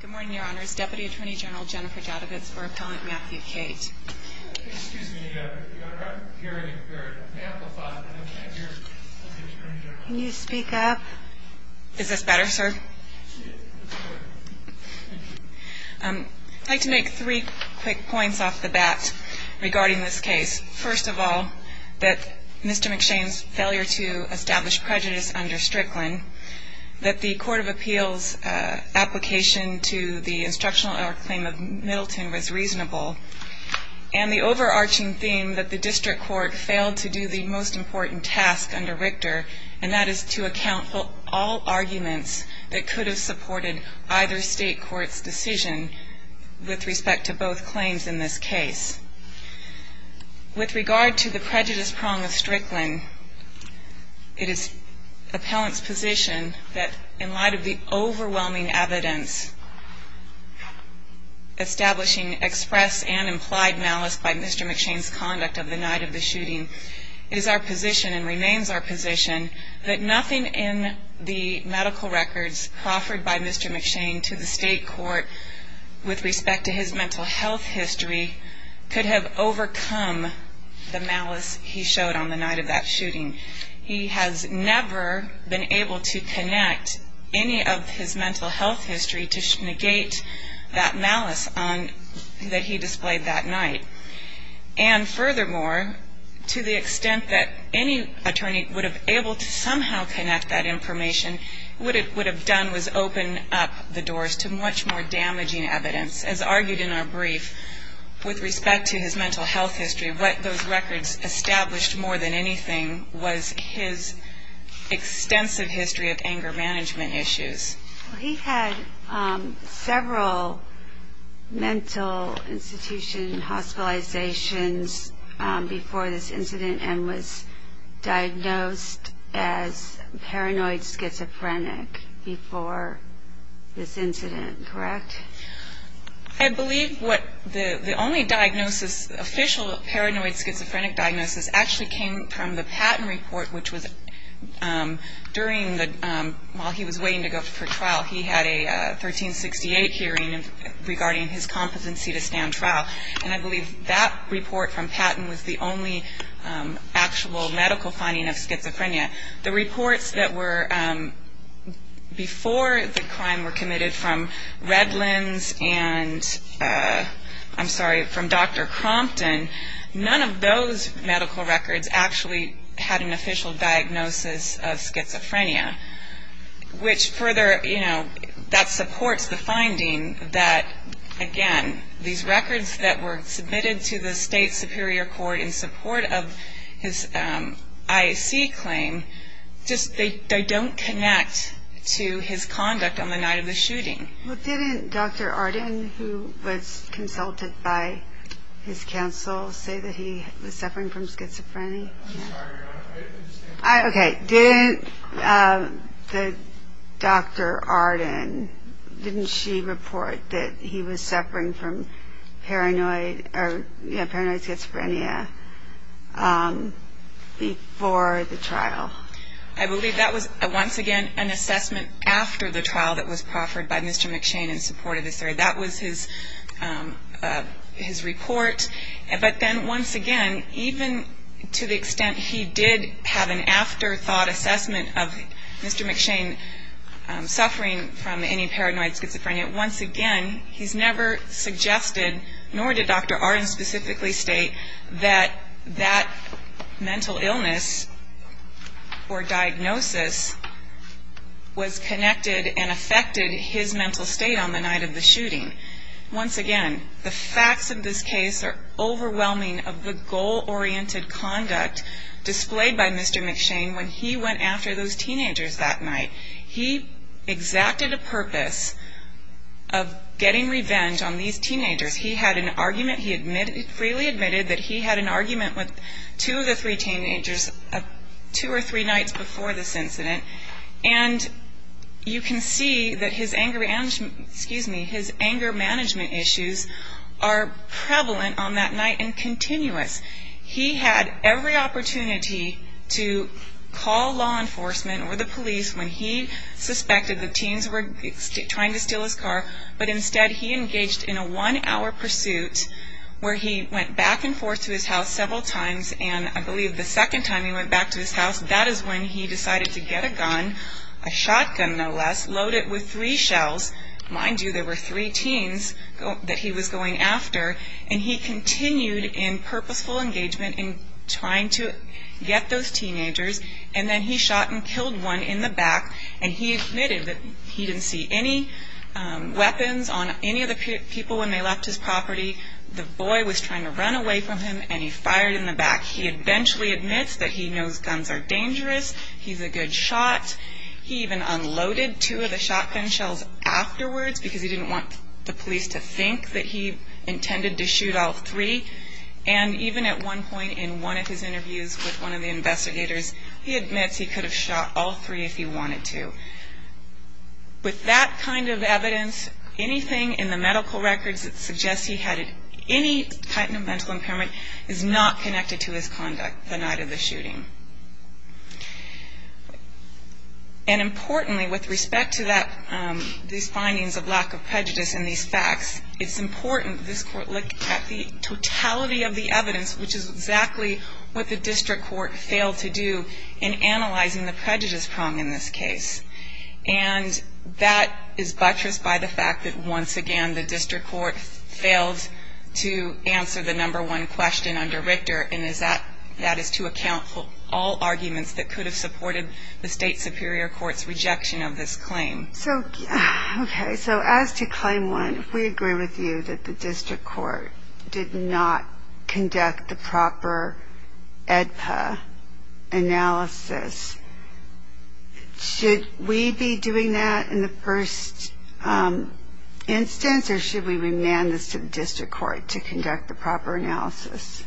Good morning, Your Honors. Deputy Attorney General Jennifer Doudovitz for Appellant Matthew Cate. Excuse me, Your Honor. I'm hearing you're amplified, but I can't hear Deputy Attorney General. Can you speak up? Is this better, sir? I'd like to make three quick points off the bat regarding this case. First of all, that Mr. McShane's failure to establish prejudice under Strickland, that the Court of Appeals' application to the instructional error claim of Middleton was reasonable, and the overarching theme that the district court failed to do the most important task under Richter, and that is to account for all arguments that could have supported either state court's decision with respect to both claims in this case. With regard to the prejudice prong of Strickland, it is Appellant's position that in light of the overwhelming evidence establishing express and implied malice by Mr. McShane's conduct of the night of the shooting, it is our position and remains our position that nothing in the medical records offered by Mr. McShane to the state court with respect to his mental health history could have overcome the malice he showed on the night of that shooting. He has never been able to connect any of his mental health history to negate that malice that he displayed that night. And furthermore, to the extent that any attorney would have been able to somehow connect that information, what it would have done was open up the doors to much more damaging evidence. As argued in our brief, with respect to his mental health history, what those records established more than anything was his extensive history of anger management issues. He had several mental institution hospitalizations before this incident and was diagnosed as paranoid schizophrenic before this incident, correct? I believe the only diagnosis, official paranoid schizophrenic diagnosis, actually came from the Patton report, which was during the, while he was waiting to go for trial, he had a 1368 hearing regarding his competency to stand trial. And I believe that report from Patton was the only actual medical finding of schizophrenia. The reports that were before the crime were committed from Redlands and, I'm sorry, from Dr. Crompton. None of those medical records actually had an official diagnosis of schizophrenia, which further, you know, that supports the finding that, again, these records that were submitted to the state superior court in support of his IAC claim, just they don't connect to his conduct on the night of the shooting. Well, didn't Dr. Arden, who was consulted by his counsel, say that he was suffering from schizophrenia? I'm sorry, Your Honor, I didn't understand. Okay, didn't Dr. Arden, didn't she report that he was suffering from paranoid, or, you know, paranoid schizophrenia before the trial? I believe that was, once again, an assessment after the trial that was proffered by Mr. McShane in support of his theory. That was his report. But then, once again, even to the extent he did have an afterthought assessment of Mr. McShane suffering from any paranoid schizophrenia, once again, he's never suggested, nor did Dr. Arden specifically state, that that mental illness or diagnosis was connected and affected his mental state on the night of the shooting. Once again, the facts of this case are overwhelming of the goal-oriented conduct displayed by Mr. McShane when he went after those teenagers that night. He exacted a purpose of getting revenge on these teenagers. He had an argument. He freely admitted that he had an argument with two of the three teenagers two or three nights before this incident. And you can see that his anger management issues are prevalent on that night and continuous. He had every opportunity to call law enforcement or the police when he suspected the teens were trying to steal his car. But instead, he engaged in a one-hour pursuit where he went back and forth to his house several times. And I believe the second time he went back to his house, that is when he decided to get a gun, a shotgun no less, loaded with three shells. Mind you, there were three teens that he was going after. And he continued in purposeful engagement in trying to get those teenagers. And then he shot and killed one in the back. And he admitted that he didn't see any weapons on any of the people when they left his property. The boy was trying to run away from him, and he fired in the back. He eventually admits that he knows guns are dangerous. He's a good shot. He even unloaded two of the shotgun shells afterwards because he didn't want the police to think that he intended to shoot all three. And even at one point in one of his interviews with one of the investigators, he admits he could have shot all three if he wanted to. With that kind of evidence, anything in the medical records that suggests he had any type of mental impairment is not connected to his conduct the night of the shooting. And importantly, with respect to that, these findings of lack of prejudice in these facts, it's important that this Court look at the totality of the evidence, which is exactly what the district court failed to do in analyzing the prejudice prong in this case. And that is buttressed by the fact that, once again, the district court failed to answer the number one question under Richter, and that is to account for all arguments that could have supported the state superior court's rejection of this claim. So, okay, so as to claim one, if we agree with you that the district court did not conduct the proper AEDPA analysis, should we be doing that in the first instance, or should we remand this to the district court to conduct the proper analysis?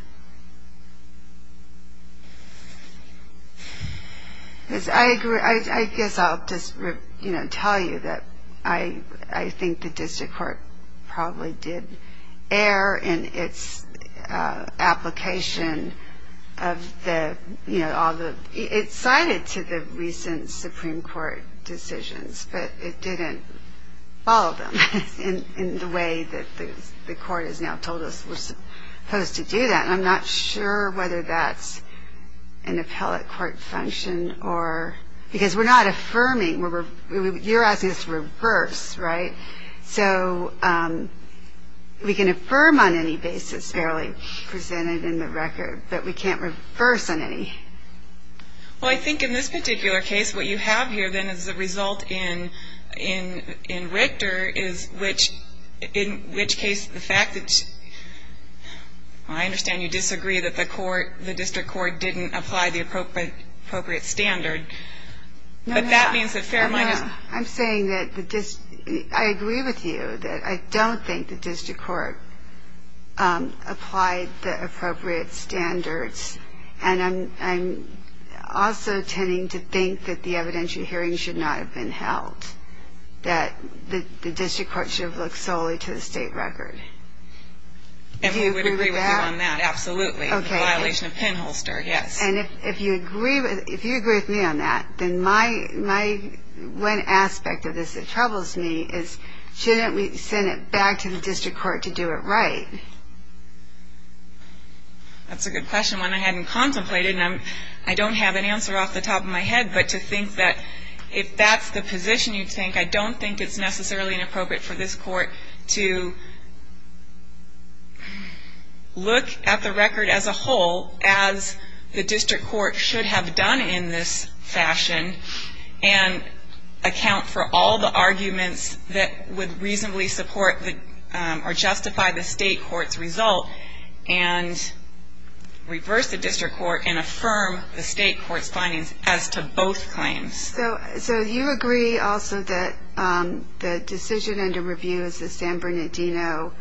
I guess I'll just, you know, tell you that I think the district court probably did err in its application of the, you know, it cited to the recent Supreme Court decisions, but it didn't follow them in the way that the court has now told us we're supposed to do them. And I'm not sure whether that's an appellate court function or, because we're not affirming, you're asking us to reverse, right? So we can affirm on any basis fairly presented in the record, but we can't reverse on any. Well, I think in this particular case, what you have here, then, is the result in Richter, is which, in which case the fact that, well, I understand you disagree that the court, the district court didn't apply the appropriate standard, but that means that Fairminer's. I'm saying that I agree with you, that I don't think the district court applied the appropriate standards, and I'm also tending to think that the evidentiary hearing should not have been held, that the district court should have looked solely to the state record. And we would agree with you on that, absolutely, the violation of Penholster, yes. And if you agree with me on that, then my one aspect of this that troubles me is, shouldn't we send it back to the district court to do it right? That's a good question, one I hadn't contemplated, and I don't have an answer off the top of my head, but to think that if that's the position you think, I don't think it's necessarily inappropriate for this court to look at the record as a whole, as the district court should have done in this fashion, and account for all the arguments that would reasonably support or justify the state court's result, and reverse the district court and affirm the state court's findings as to both claims. So you agree also that the decision under review is the San Bernardino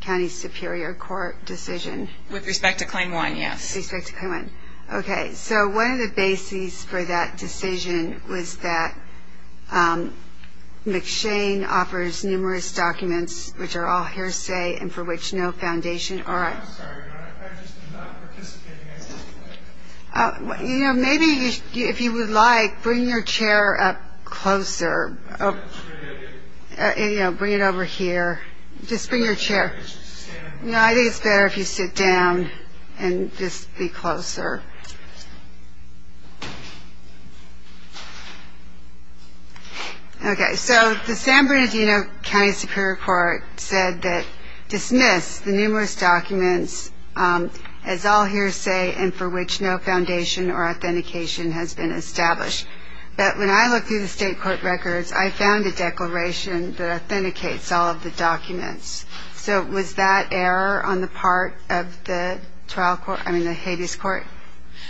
County Superior Court decision? With respect to claim one, yes. With respect to claim one. Okay, so one of the bases for that decision was that McShane offers numerous documents, which are all hearsay and for which no foundation. Maybe if you would like, bring your chair up closer. Bring it over here. Just bring your chair. I think it's better if you sit down and just be closer. Okay, so the San Bernardino County Superior Court said that dismiss the numerous documents as all hearsay and for which no foundation or authentication has been established. But when I look through the state court records, I found a declaration that authenticates all of the documents. So was that error on the part of the trial court, I mean the Hades court?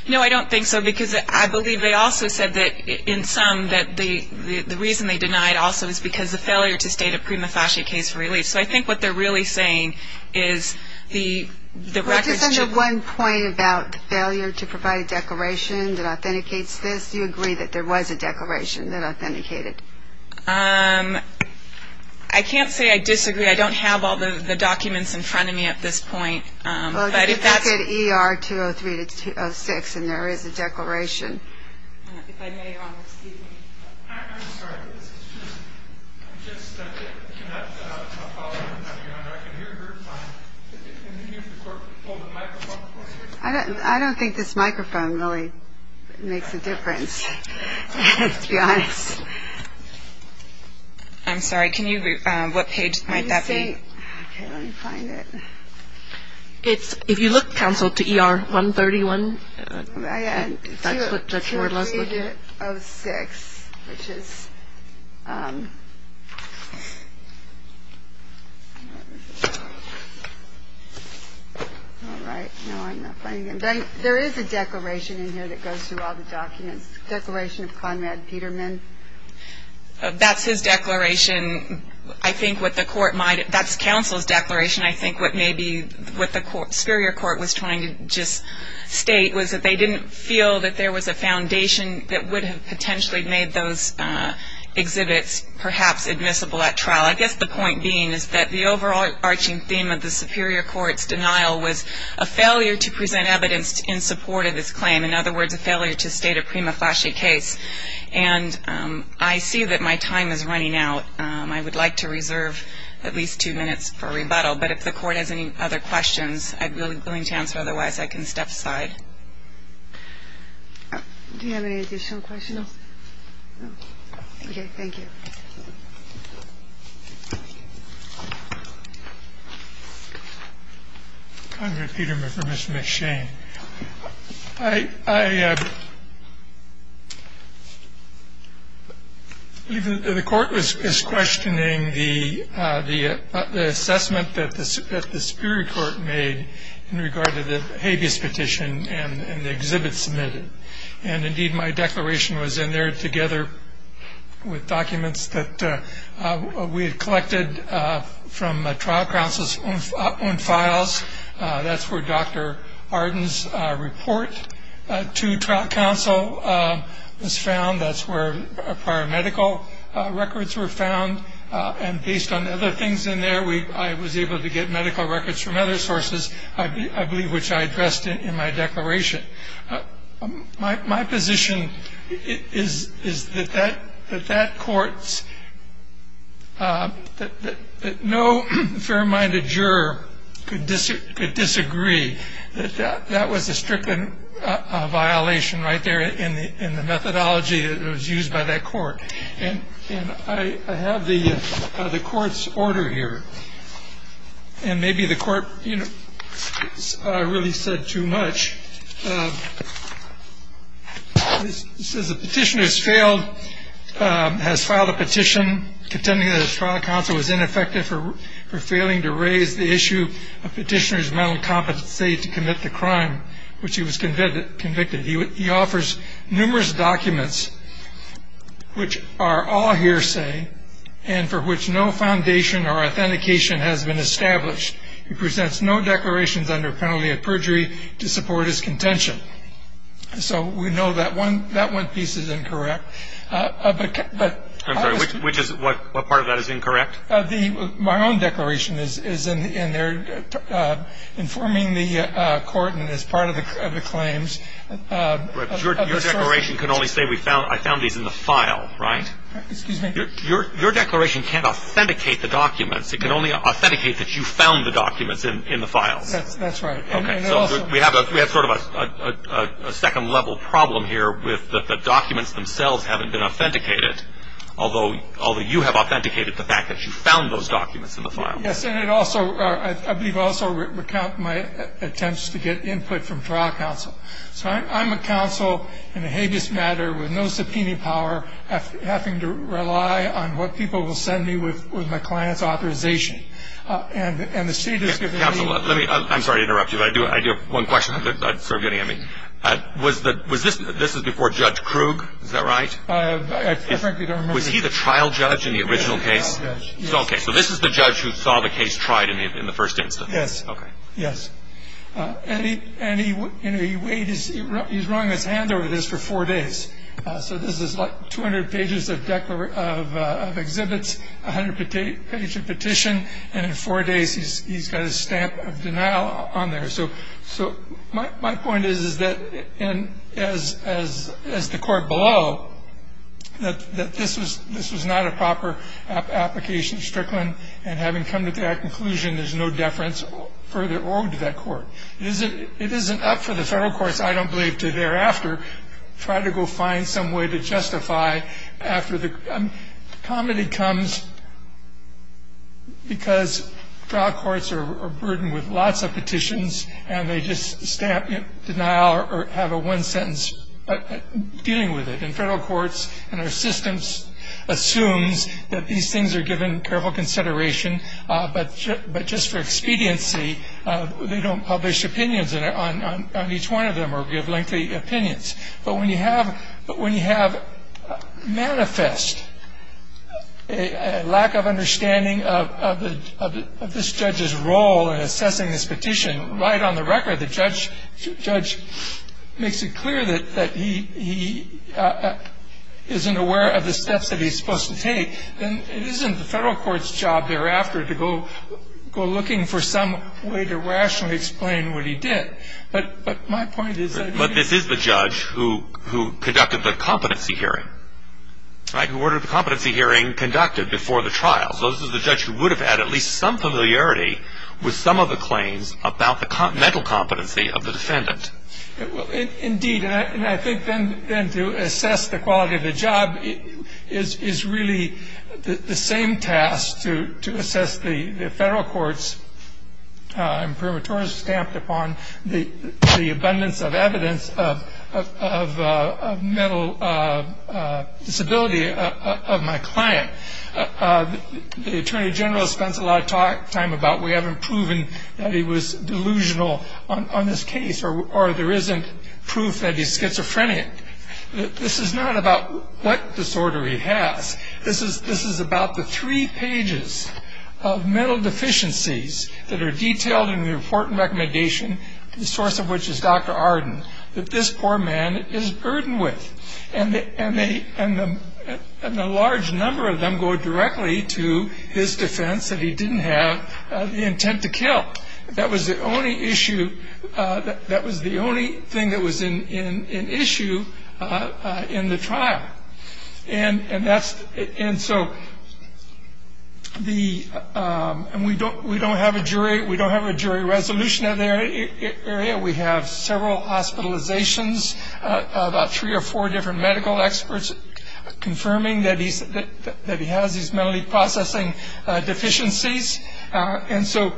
No, I don't think so, because I believe they also said that in some that the reason they denied also is because of failure to state a prima facie case for release. So I think what they're really saying is the records should be. Well, just under one point about failure to provide a declaration that authenticates this, do you agree that there was a declaration that authenticated? I can't say I disagree. I don't have all the documents in front of me at this point. Well, just look at ER 203-206 and there is a declaration. If I may, Your Honor, excuse me. I'm sorry. This is just. I'm just. That's a tough call, Your Honor. I can hear her fine. Can you hold the microphone closer? I don't think this microphone really makes a difference, to be honest. I'm sorry. Can you, what page might that be? Let me see. Okay, let me find it. If you look, counsel, to ER 131, that's what Judge Ward-Leslie. 203-06, which is. All right. No, I'm not finding it. There is a declaration in here that goes through all the documents. Declaration of Conrad Peterman. That's his declaration. I think what the court might. That's counsel's declaration. I think what maybe what the superior court was trying to just state was that they didn't feel that there was a foundation that would have potentially made those exhibits perhaps admissible at trial. I guess the point being is that the overarching theme of the superior court's denial was a failure to present evidence in support of his claim. In other words, a failure to state a prima facie case. And I see that my time is running out. I would like to reserve at least two minutes for rebuttal. But if the court has any other questions, I'm willing to answer, otherwise I can step aside. Do you have any additional questions? No. Okay, thank you. Mr. Schoen. I believe the court is questioning the assessment that the superior court made in regard to the habeas petition and the exhibit submitted. And, indeed, my declaration was in there together with documents from the documents that we had collected from trial counsel's own files. That's where Dr. Arden's report to trial counsel was found. That's where prior medical records were found. And based on other things in there, I was able to get medical records from other sources, I believe which I addressed in my declaration. My position is that that court's – that no fair-minded juror could disagree that that was a stricken violation right there in the methodology that was used by that court. And I have the court's order here. And maybe the court really said too much. It says the petitioner has failed – has filed a petition contending that his trial counsel was ineffective for failing to raise the issue of petitioner's mental competency to commit the crime which he was convicted. He offers numerous documents which are all hearsay and for which no foundation or authentication has been established. He presents no declarations under penalty of perjury to support his contention. So we know that one piece is incorrect. I'm sorry, which is – what part of that is incorrect? My own declaration is in there informing the court and is part of the claims. Your declaration can only say I found these in the file, right? Excuse me? Your declaration can't authenticate the documents. It can only authenticate that you found the documents in the files. That's right. Okay. So we have sort of a second-level problem here with the documents themselves haven't been authenticated, although you have authenticated the fact that you found those documents in the file. Yes. And it also – I believe it also recounts my attempts to get input from trial counsel. So I'm a counsel in a habeas matter with no subpoena power, having to rely on what people will send me with my client's authorization. And the state has given me – Counsel, let me – I'm sorry to interrupt you, but I do have one question I'm sort of getting at me. This is before Judge Krug, is that right? I frankly don't remember. Was he the trial judge in the original case? He was the trial judge, yes. Okay. So this is the judge who saw the case tried in the first instance? Yes. Okay. Yes. And he weighed his – he was rolling his hands over this for four days. So this is like 200 pages of exhibits, 100 pages of petition, and in four days he's got a stamp of denial on there. So my point is, is that as the court below, that this was not a proper application of Strickland, and having come to that conclusion, there's no deference further on to that court. It isn't up for the federal courts, I don't believe, to thereafter try to go find some way to justify after the – comedy comes because trial courts are burdened with lots of petitions and they just stamp denial or have a one-sentence dealing with it. And our systems assumes that these things are given careful consideration. But just for expediency they don't publish opinions on each one of them or give lengthy opinions. But when you have – but when you have manifest a lack of understanding of this judge's role in assessing this petition, right on the record the judge makes it clear that he isn't aware of the steps that he's supposed to take, then it isn't the federal court's job thereafter to go looking for some way to rationally explain what he did. But my point is that – But this is the judge who conducted the competency hearing, right, who ordered the competency hearing conducted before the trial. So this is the judge who would have had at least some familiarity with some of the claims about the mental competency of the defendant. Indeed, and I think then to assess the quality of the job is really the same task to assess the federal court's stamped upon the abundance of evidence of mental disability of my client. The attorney general spends a lot of time about we haven't proven that he was delusional on this case or there isn't proof that he's schizophrenic. This is not about what disorder he has. This is about the three pages of mental deficiencies that are detailed in the report and recommendation, the source of which is Dr. Arden, that this poor man is burdened with. And a large number of them go directly to his defense that he didn't have the intent to kill. That was the only issue – that was the only thing that was in issue in the trial. And that's – and so the – and we don't have a jury – we don't have a jury resolution of the area. We have several hospitalizations, about three or four different medical experts confirming that he's – that he has these mentally processing deficiencies. And so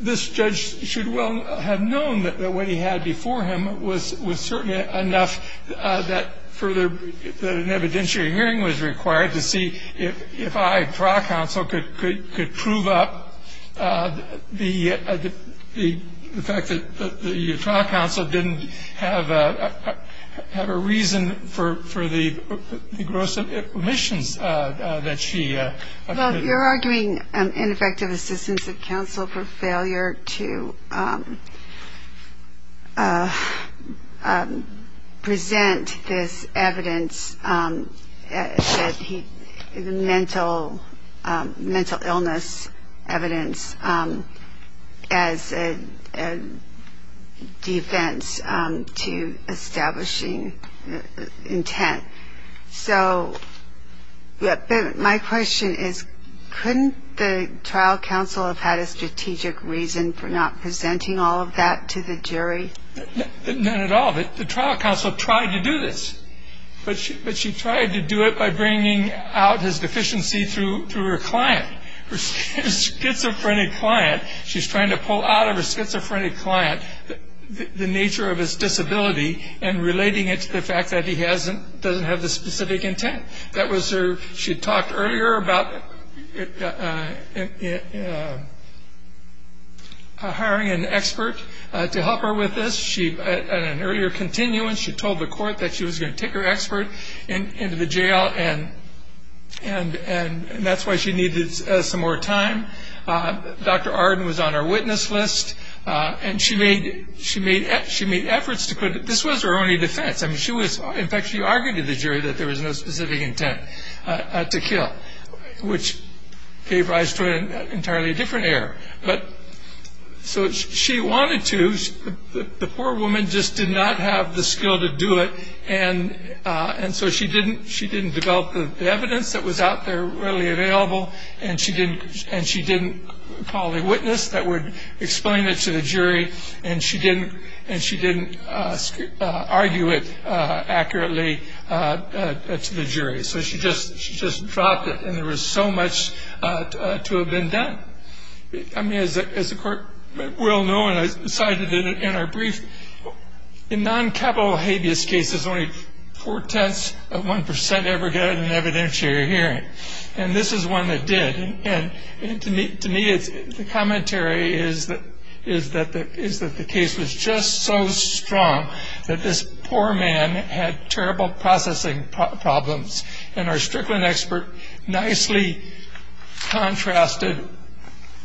this judge should well have known that what he had before him was certainly enough that further – that an evidentiary hearing was required to see if I, trial counsel, could prove up the fact that the trial counsel didn't have a reason for the gross omissions that she – Well, you're arguing ineffective assistance of counsel for failure to present this evidence that he – the mental illness evidence as a defense to establishing intent. So my question is, couldn't the trial counsel have had a strategic reason for not presenting all of that to the jury? None at all. The trial counsel tried to do this. But she tried to do it by bringing out his deficiency through her client, her schizophrenic client. She's trying to pull out of her schizophrenic client the nature of his disability and relating it to the fact that he hasn't – doesn't have the specific intent. That was her – she talked earlier about hiring an expert to help her with this. She – in an earlier continuance, she told the court that she was going to take her expert into the jail, and that's why she needed some more time. Dr. Arden was on her witness list. And she made efforts to put – this was her only defense. I mean, she was – in fact, she argued to the jury that there was no specific intent to kill, which gave rise to an entirely different error. But – so she wanted to. The poor woman just did not have the skill to do it, and so she didn't develop the evidence that was out there readily available, and she didn't – and she didn't call a witness that would explain it to the jury, and she didn't – and she didn't argue it accurately to the jury. So she just – she just dropped it, and there was so much to have been done. I mean, as the court well know, and I cited it in our brief, in non-capital habeas cases, only four-tenths of 1 percent ever get an evidentiary hearing. And this is one that did. And to me, the commentary is that the case was just so strong that this poor man had terrible processing problems, and our Strickland expert nicely contrasted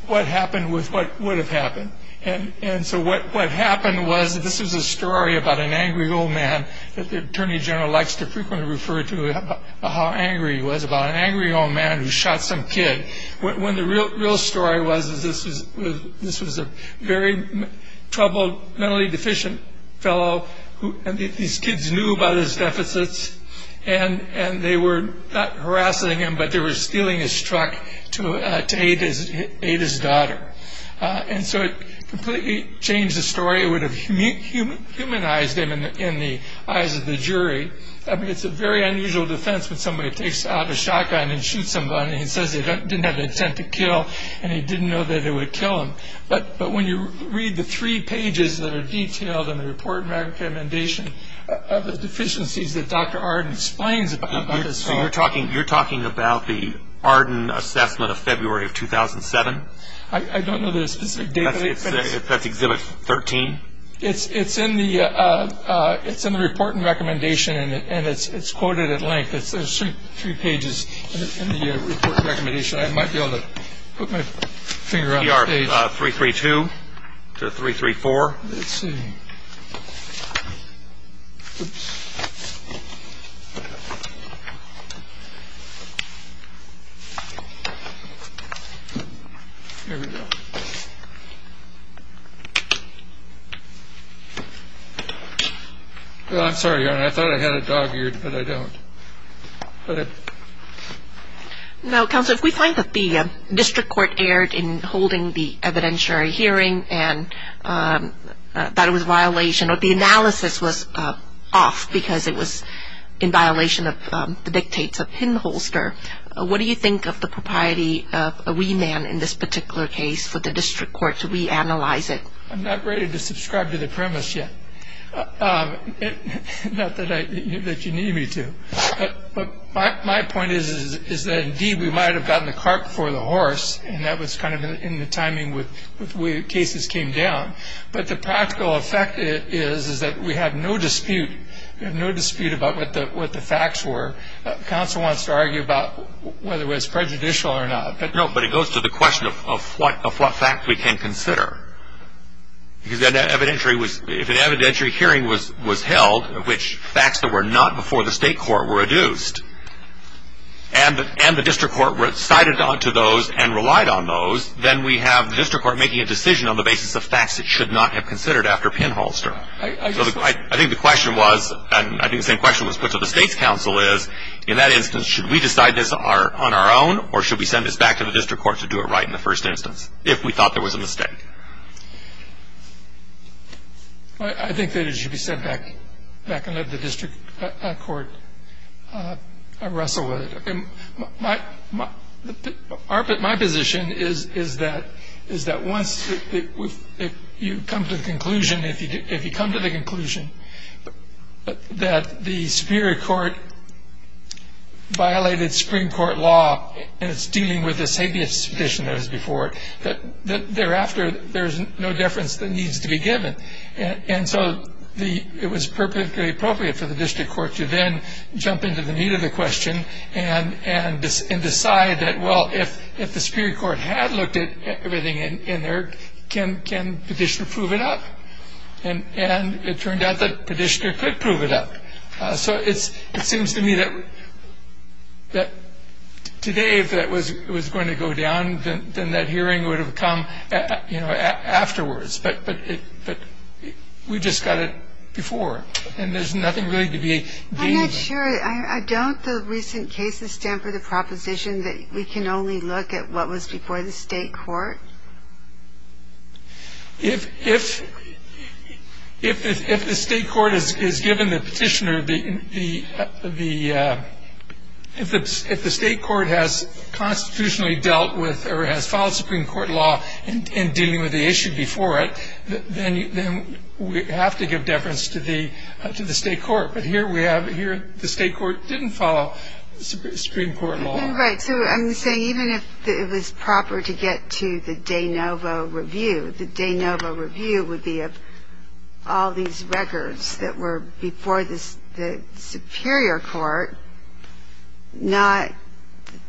what happened with what would have happened. And so what happened was that this was a story about an angry old man that the attorney general likes to frequently refer to how angry he was, about an angry old man who shot some kid, when the real story was that this was a very troubled, mentally deficient fellow and these kids knew about his deficits, and they were not harassing him, but they were stealing his truck to aid his daughter. And so it completely changed the story. It would have humanized him in the eyes of the jury. I mean, it's a very unusual defense when somebody takes out a shotgun and shoots somebody and says he didn't have the intent to kill and he didn't know that it would kill him. But when you read the three pages that are detailed in the report and recommendation of the deficiencies that Dr. Arden explains about this fellow. So you're talking about the Arden assessment of February of 2007? I don't know the specific date. That's Exhibit 13? It's in the report and recommendation, and it's quoted at length. There's three pages in the report and recommendation. I might be able to put my finger on the page. ER 332 to 334? Let's see. Oops. Here we go. I'm sorry, Your Honor. I thought I had it dog-eared, but I don't. Now, Counselor, if we find that the district court erred in holding the evidentiary hearing and that it was a violation or the analysis was off because it was in violation of the dictates of Pinholster, what do you think of the propriety of a remand in this particular case for the district court to reanalyze it? I'm not ready to subscribe to the premise yet, not that you need me to. But my point is that, indeed, we might have gotten the cart before the horse, and that was kind of in the timing with the way the cases came down. But the practical effect is that we have no dispute. We have no dispute about what the facts were. Counsel wants to argue about whether it was prejudicial or not. No, but it goes to the question of what fact we can consider. If an evidentiary hearing was held, which facts that were not before the state court were adduced, and the district court recited onto those and relied on those, then we have the district court making a decision on the basis of facts it should not have considered after Pinholster. I think the question was, and I think the same question was put to the state's counsel is, in that instance, should we decide this on our own, or should we send this back to the district court to do it right in the first instance, if we thought there was a mistake? I think that it should be sent back and let the district court wrestle with it. My position is that once you come to the conclusion, if you come to the conclusion that the Superior Court violated Supreme Court law and it's dealing with the same suspicion that was before it, that thereafter there's no deference that needs to be given. And so it was perfectly appropriate for the district court to then jump into the meat of the question and decide that, well, if the Superior Court had looked at everything in there, can petitioner prove it up? And it turned out that petitioner could prove it up. So it seems to me that today, if that was going to go down, then that hearing would have come, you know, afterwards. But we just got it before, and there's nothing really to be gained. I'm not sure. Don't the recent cases stand for the proposition that we can only look at what was before the state court? If the state court has given the petitioner the ‑‑ if the state court has constitutionally dealt with or has followed Supreme Court law in dealing with the issue before it, then we have to give deference to the state court. But here we have ‑‑ here the state court didn't follow Supreme Court law. Right. So I'm saying even if it was proper to get to the de novo review, the de novo review would be of all these records that were before the Superior Court, not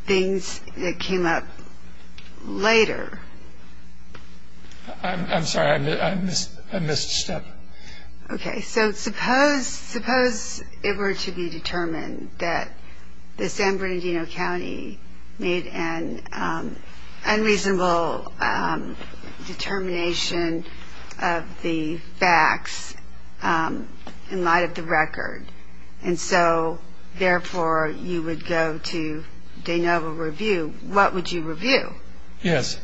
things that came up later. I'm sorry. I missed a step. Okay. So suppose it were to be determined that the San Bernardino County made an unreasonable determination of the facts in light of the record, and so therefore you would go to de novo review. What would you review? Yes.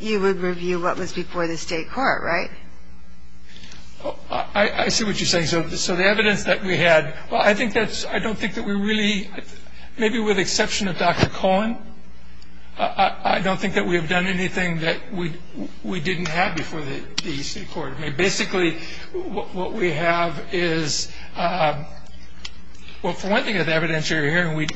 You would review what was before the state court, right? I see what you're saying. So the evidence that we had, well, I think that's ‑‑ I don't think that we really, maybe with the exception of Dr. Cohen, I don't think that we have done anything that we didn't have before the state court. I mean, basically what we have is, well, for one thing, the evidence you're hearing,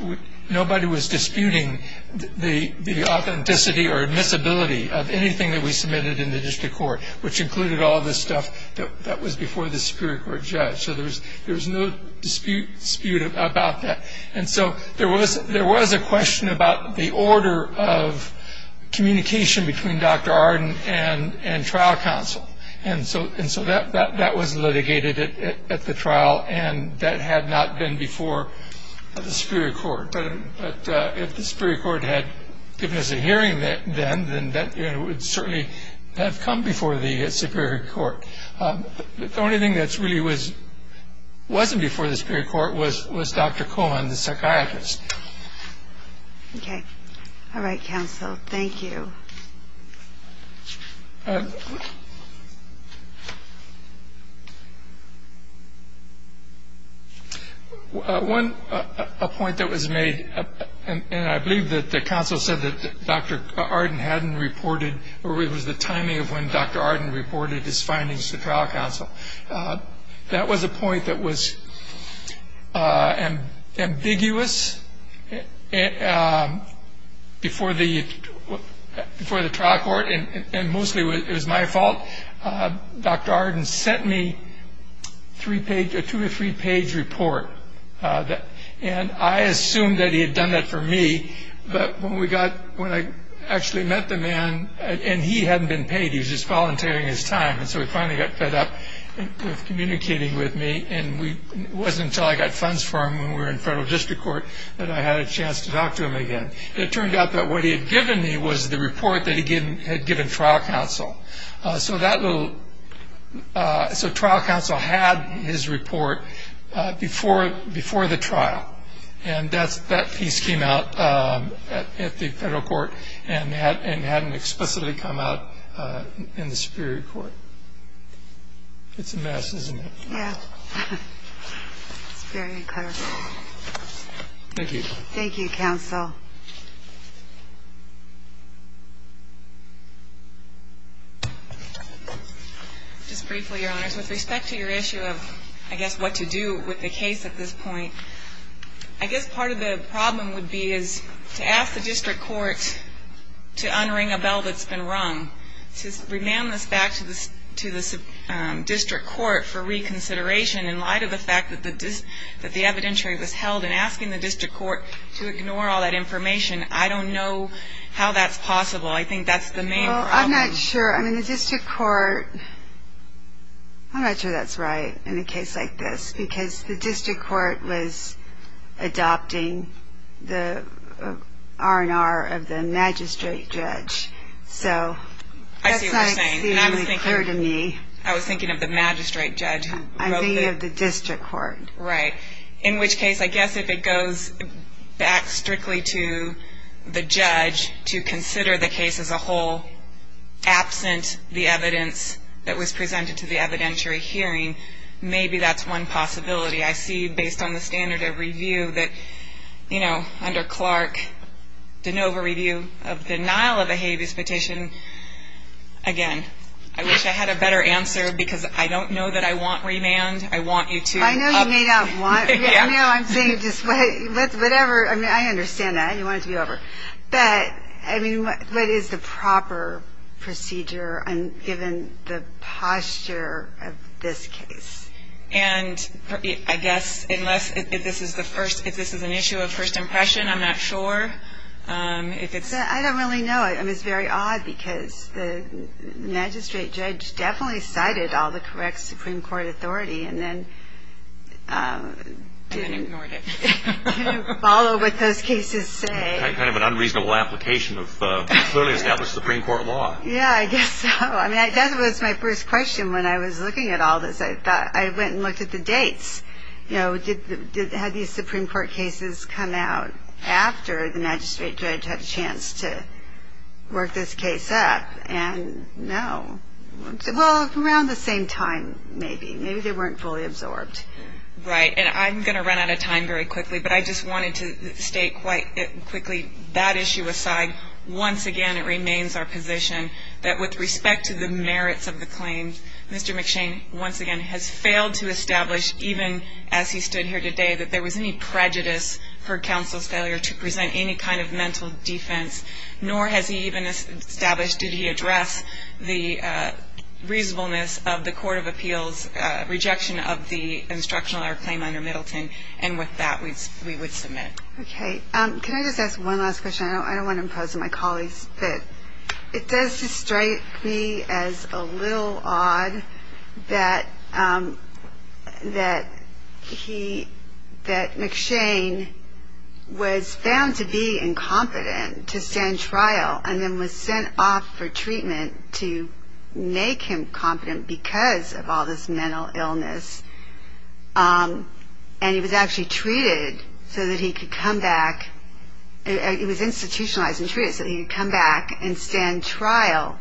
nobody was disputing the authenticity or admissibility of anything that we submitted in the district court, which included all this stuff that was before the Superior Court judge. So there was no dispute about that. And so there was a question about the order of communication between Dr. Arden and trial counsel. And so that was litigated at the trial, and that had not been before the Superior Court. But if the Superior Court had given us a hearing then, then that would certainly have come before the Superior Court. The only thing that really wasn't before the Superior Court was Dr. Cohen, the psychiatrist. Okay. All right, counsel. Thank you. Thank you. One point that was made, and I believe that the counsel said that Dr. Arden hadn't reported or it was the timing of when Dr. Arden reported his findings to trial counsel. That was a point that was ambiguous before the trial court, and mostly it was my fault. Dr. Arden sent me a two- or three-page report, and I assumed that he had done that for me. But when I actually met the man, and he hadn't been paid. He was just volunteering his time. And so he finally got fed up with communicating with me, and it wasn't until I got funds for him when we were in federal district court that I had a chance to talk to him again. And it turned out that what he had given me was the report that he had given trial counsel. So trial counsel had his report before the trial, and that piece came out at the federal court and hadn't explicitly come out in the superior court. It's a mess, isn't it? Yeah. It's very clear. Thank you. Thank you, counsel. I guess part of the problem would be is to ask the district court to unring a bell that's been rung. To remand this back to the district court for reconsideration in light of the fact that the evidentiary was held and asking the district court to ignore all that information, I don't know how that's possible. I think that's the main problem. Well, I'm not sure. I mean, the district court, I'm not sure that's right in a case like this because the district court was adopting the R&R of the magistrate judge. So that's not clearly clear to me. I was thinking of the magistrate judge. I'm thinking of the district court. Right. In which case I guess if it goes back strictly to the judge to consider the case as a whole, absent the evidence that was presented to the evidentiary hearing, maybe that's one possibility. I see based on the standard of review that, you know, under Clark, de novo review of denial of a habeas petition, again, I wish I had a better answer because I don't know that I want remand. I want you to. I know you may not want. No, I'm saying just whatever. I mean, I understand that. You want it to be over. But, I mean, what is the proper procedure given the posture of this case? And I guess unless this is an issue of first impression, I'm not sure. I don't really know. It was very odd because the magistrate judge definitely cited all the correct Supreme Court authority and then didn't follow what those cases say. Kind of an unreasonable application of clearly established Supreme Court law. Yeah, I guess so. I mean, that was my first question when I was looking at all this. I went and looked at the dates. You know, had these Supreme Court cases come out after the magistrate judge had a chance to work this case up? And no. Well, around the same time maybe. Maybe they weren't fully absorbed. Right. And I'm going to run out of time very quickly, but I just wanted to state quite quickly that issue aside, once again it remains our position that with respect to the merits of the claims, Mr. McShane once again has failed to establish, even as he stood here today, that there was any prejudice for counsel's failure to present any kind of mental defense, nor has he even established, did he address the reasonableness of the Court of Appeals' rejection of the instructional error claim under Middleton. And with that, we would submit. Okay. Can I just ask one last question? I don't want to impose on my colleagues. It does strike me as a little odd that McShane was found to be incompetent to stand trial and then was sent off for treatment to make him competent because of all this mental illness. And he was actually treated so that he could come back. He was institutionalized and treated so that he could come back and stand trial.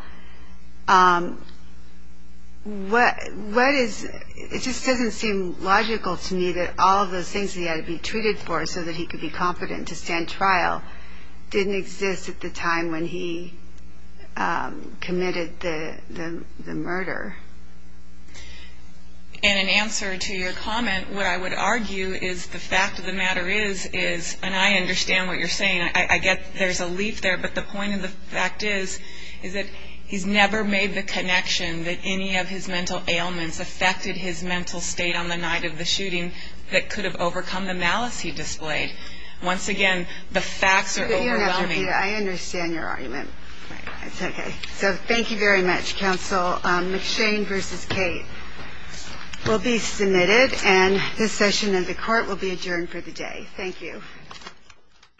It just doesn't seem logical to me that all of those things that he had to be treated for so that he could be competent to stand trial didn't exist at the time when he committed the murder. And in answer to your comment, what I would argue is the fact of the matter is, and I understand what you're saying, I get there's a leaf there, but the point of the fact is that he's never made the connection that any of his mental ailments affected his mental state on the night of the shooting that could have overcome the malice he displayed. Once again, the facts are overwhelming. I understand your argument. It's okay. So thank you very much, counsel. McShane v. Cate will be submitted, and this session of the court will be adjourned for the day. Thank you.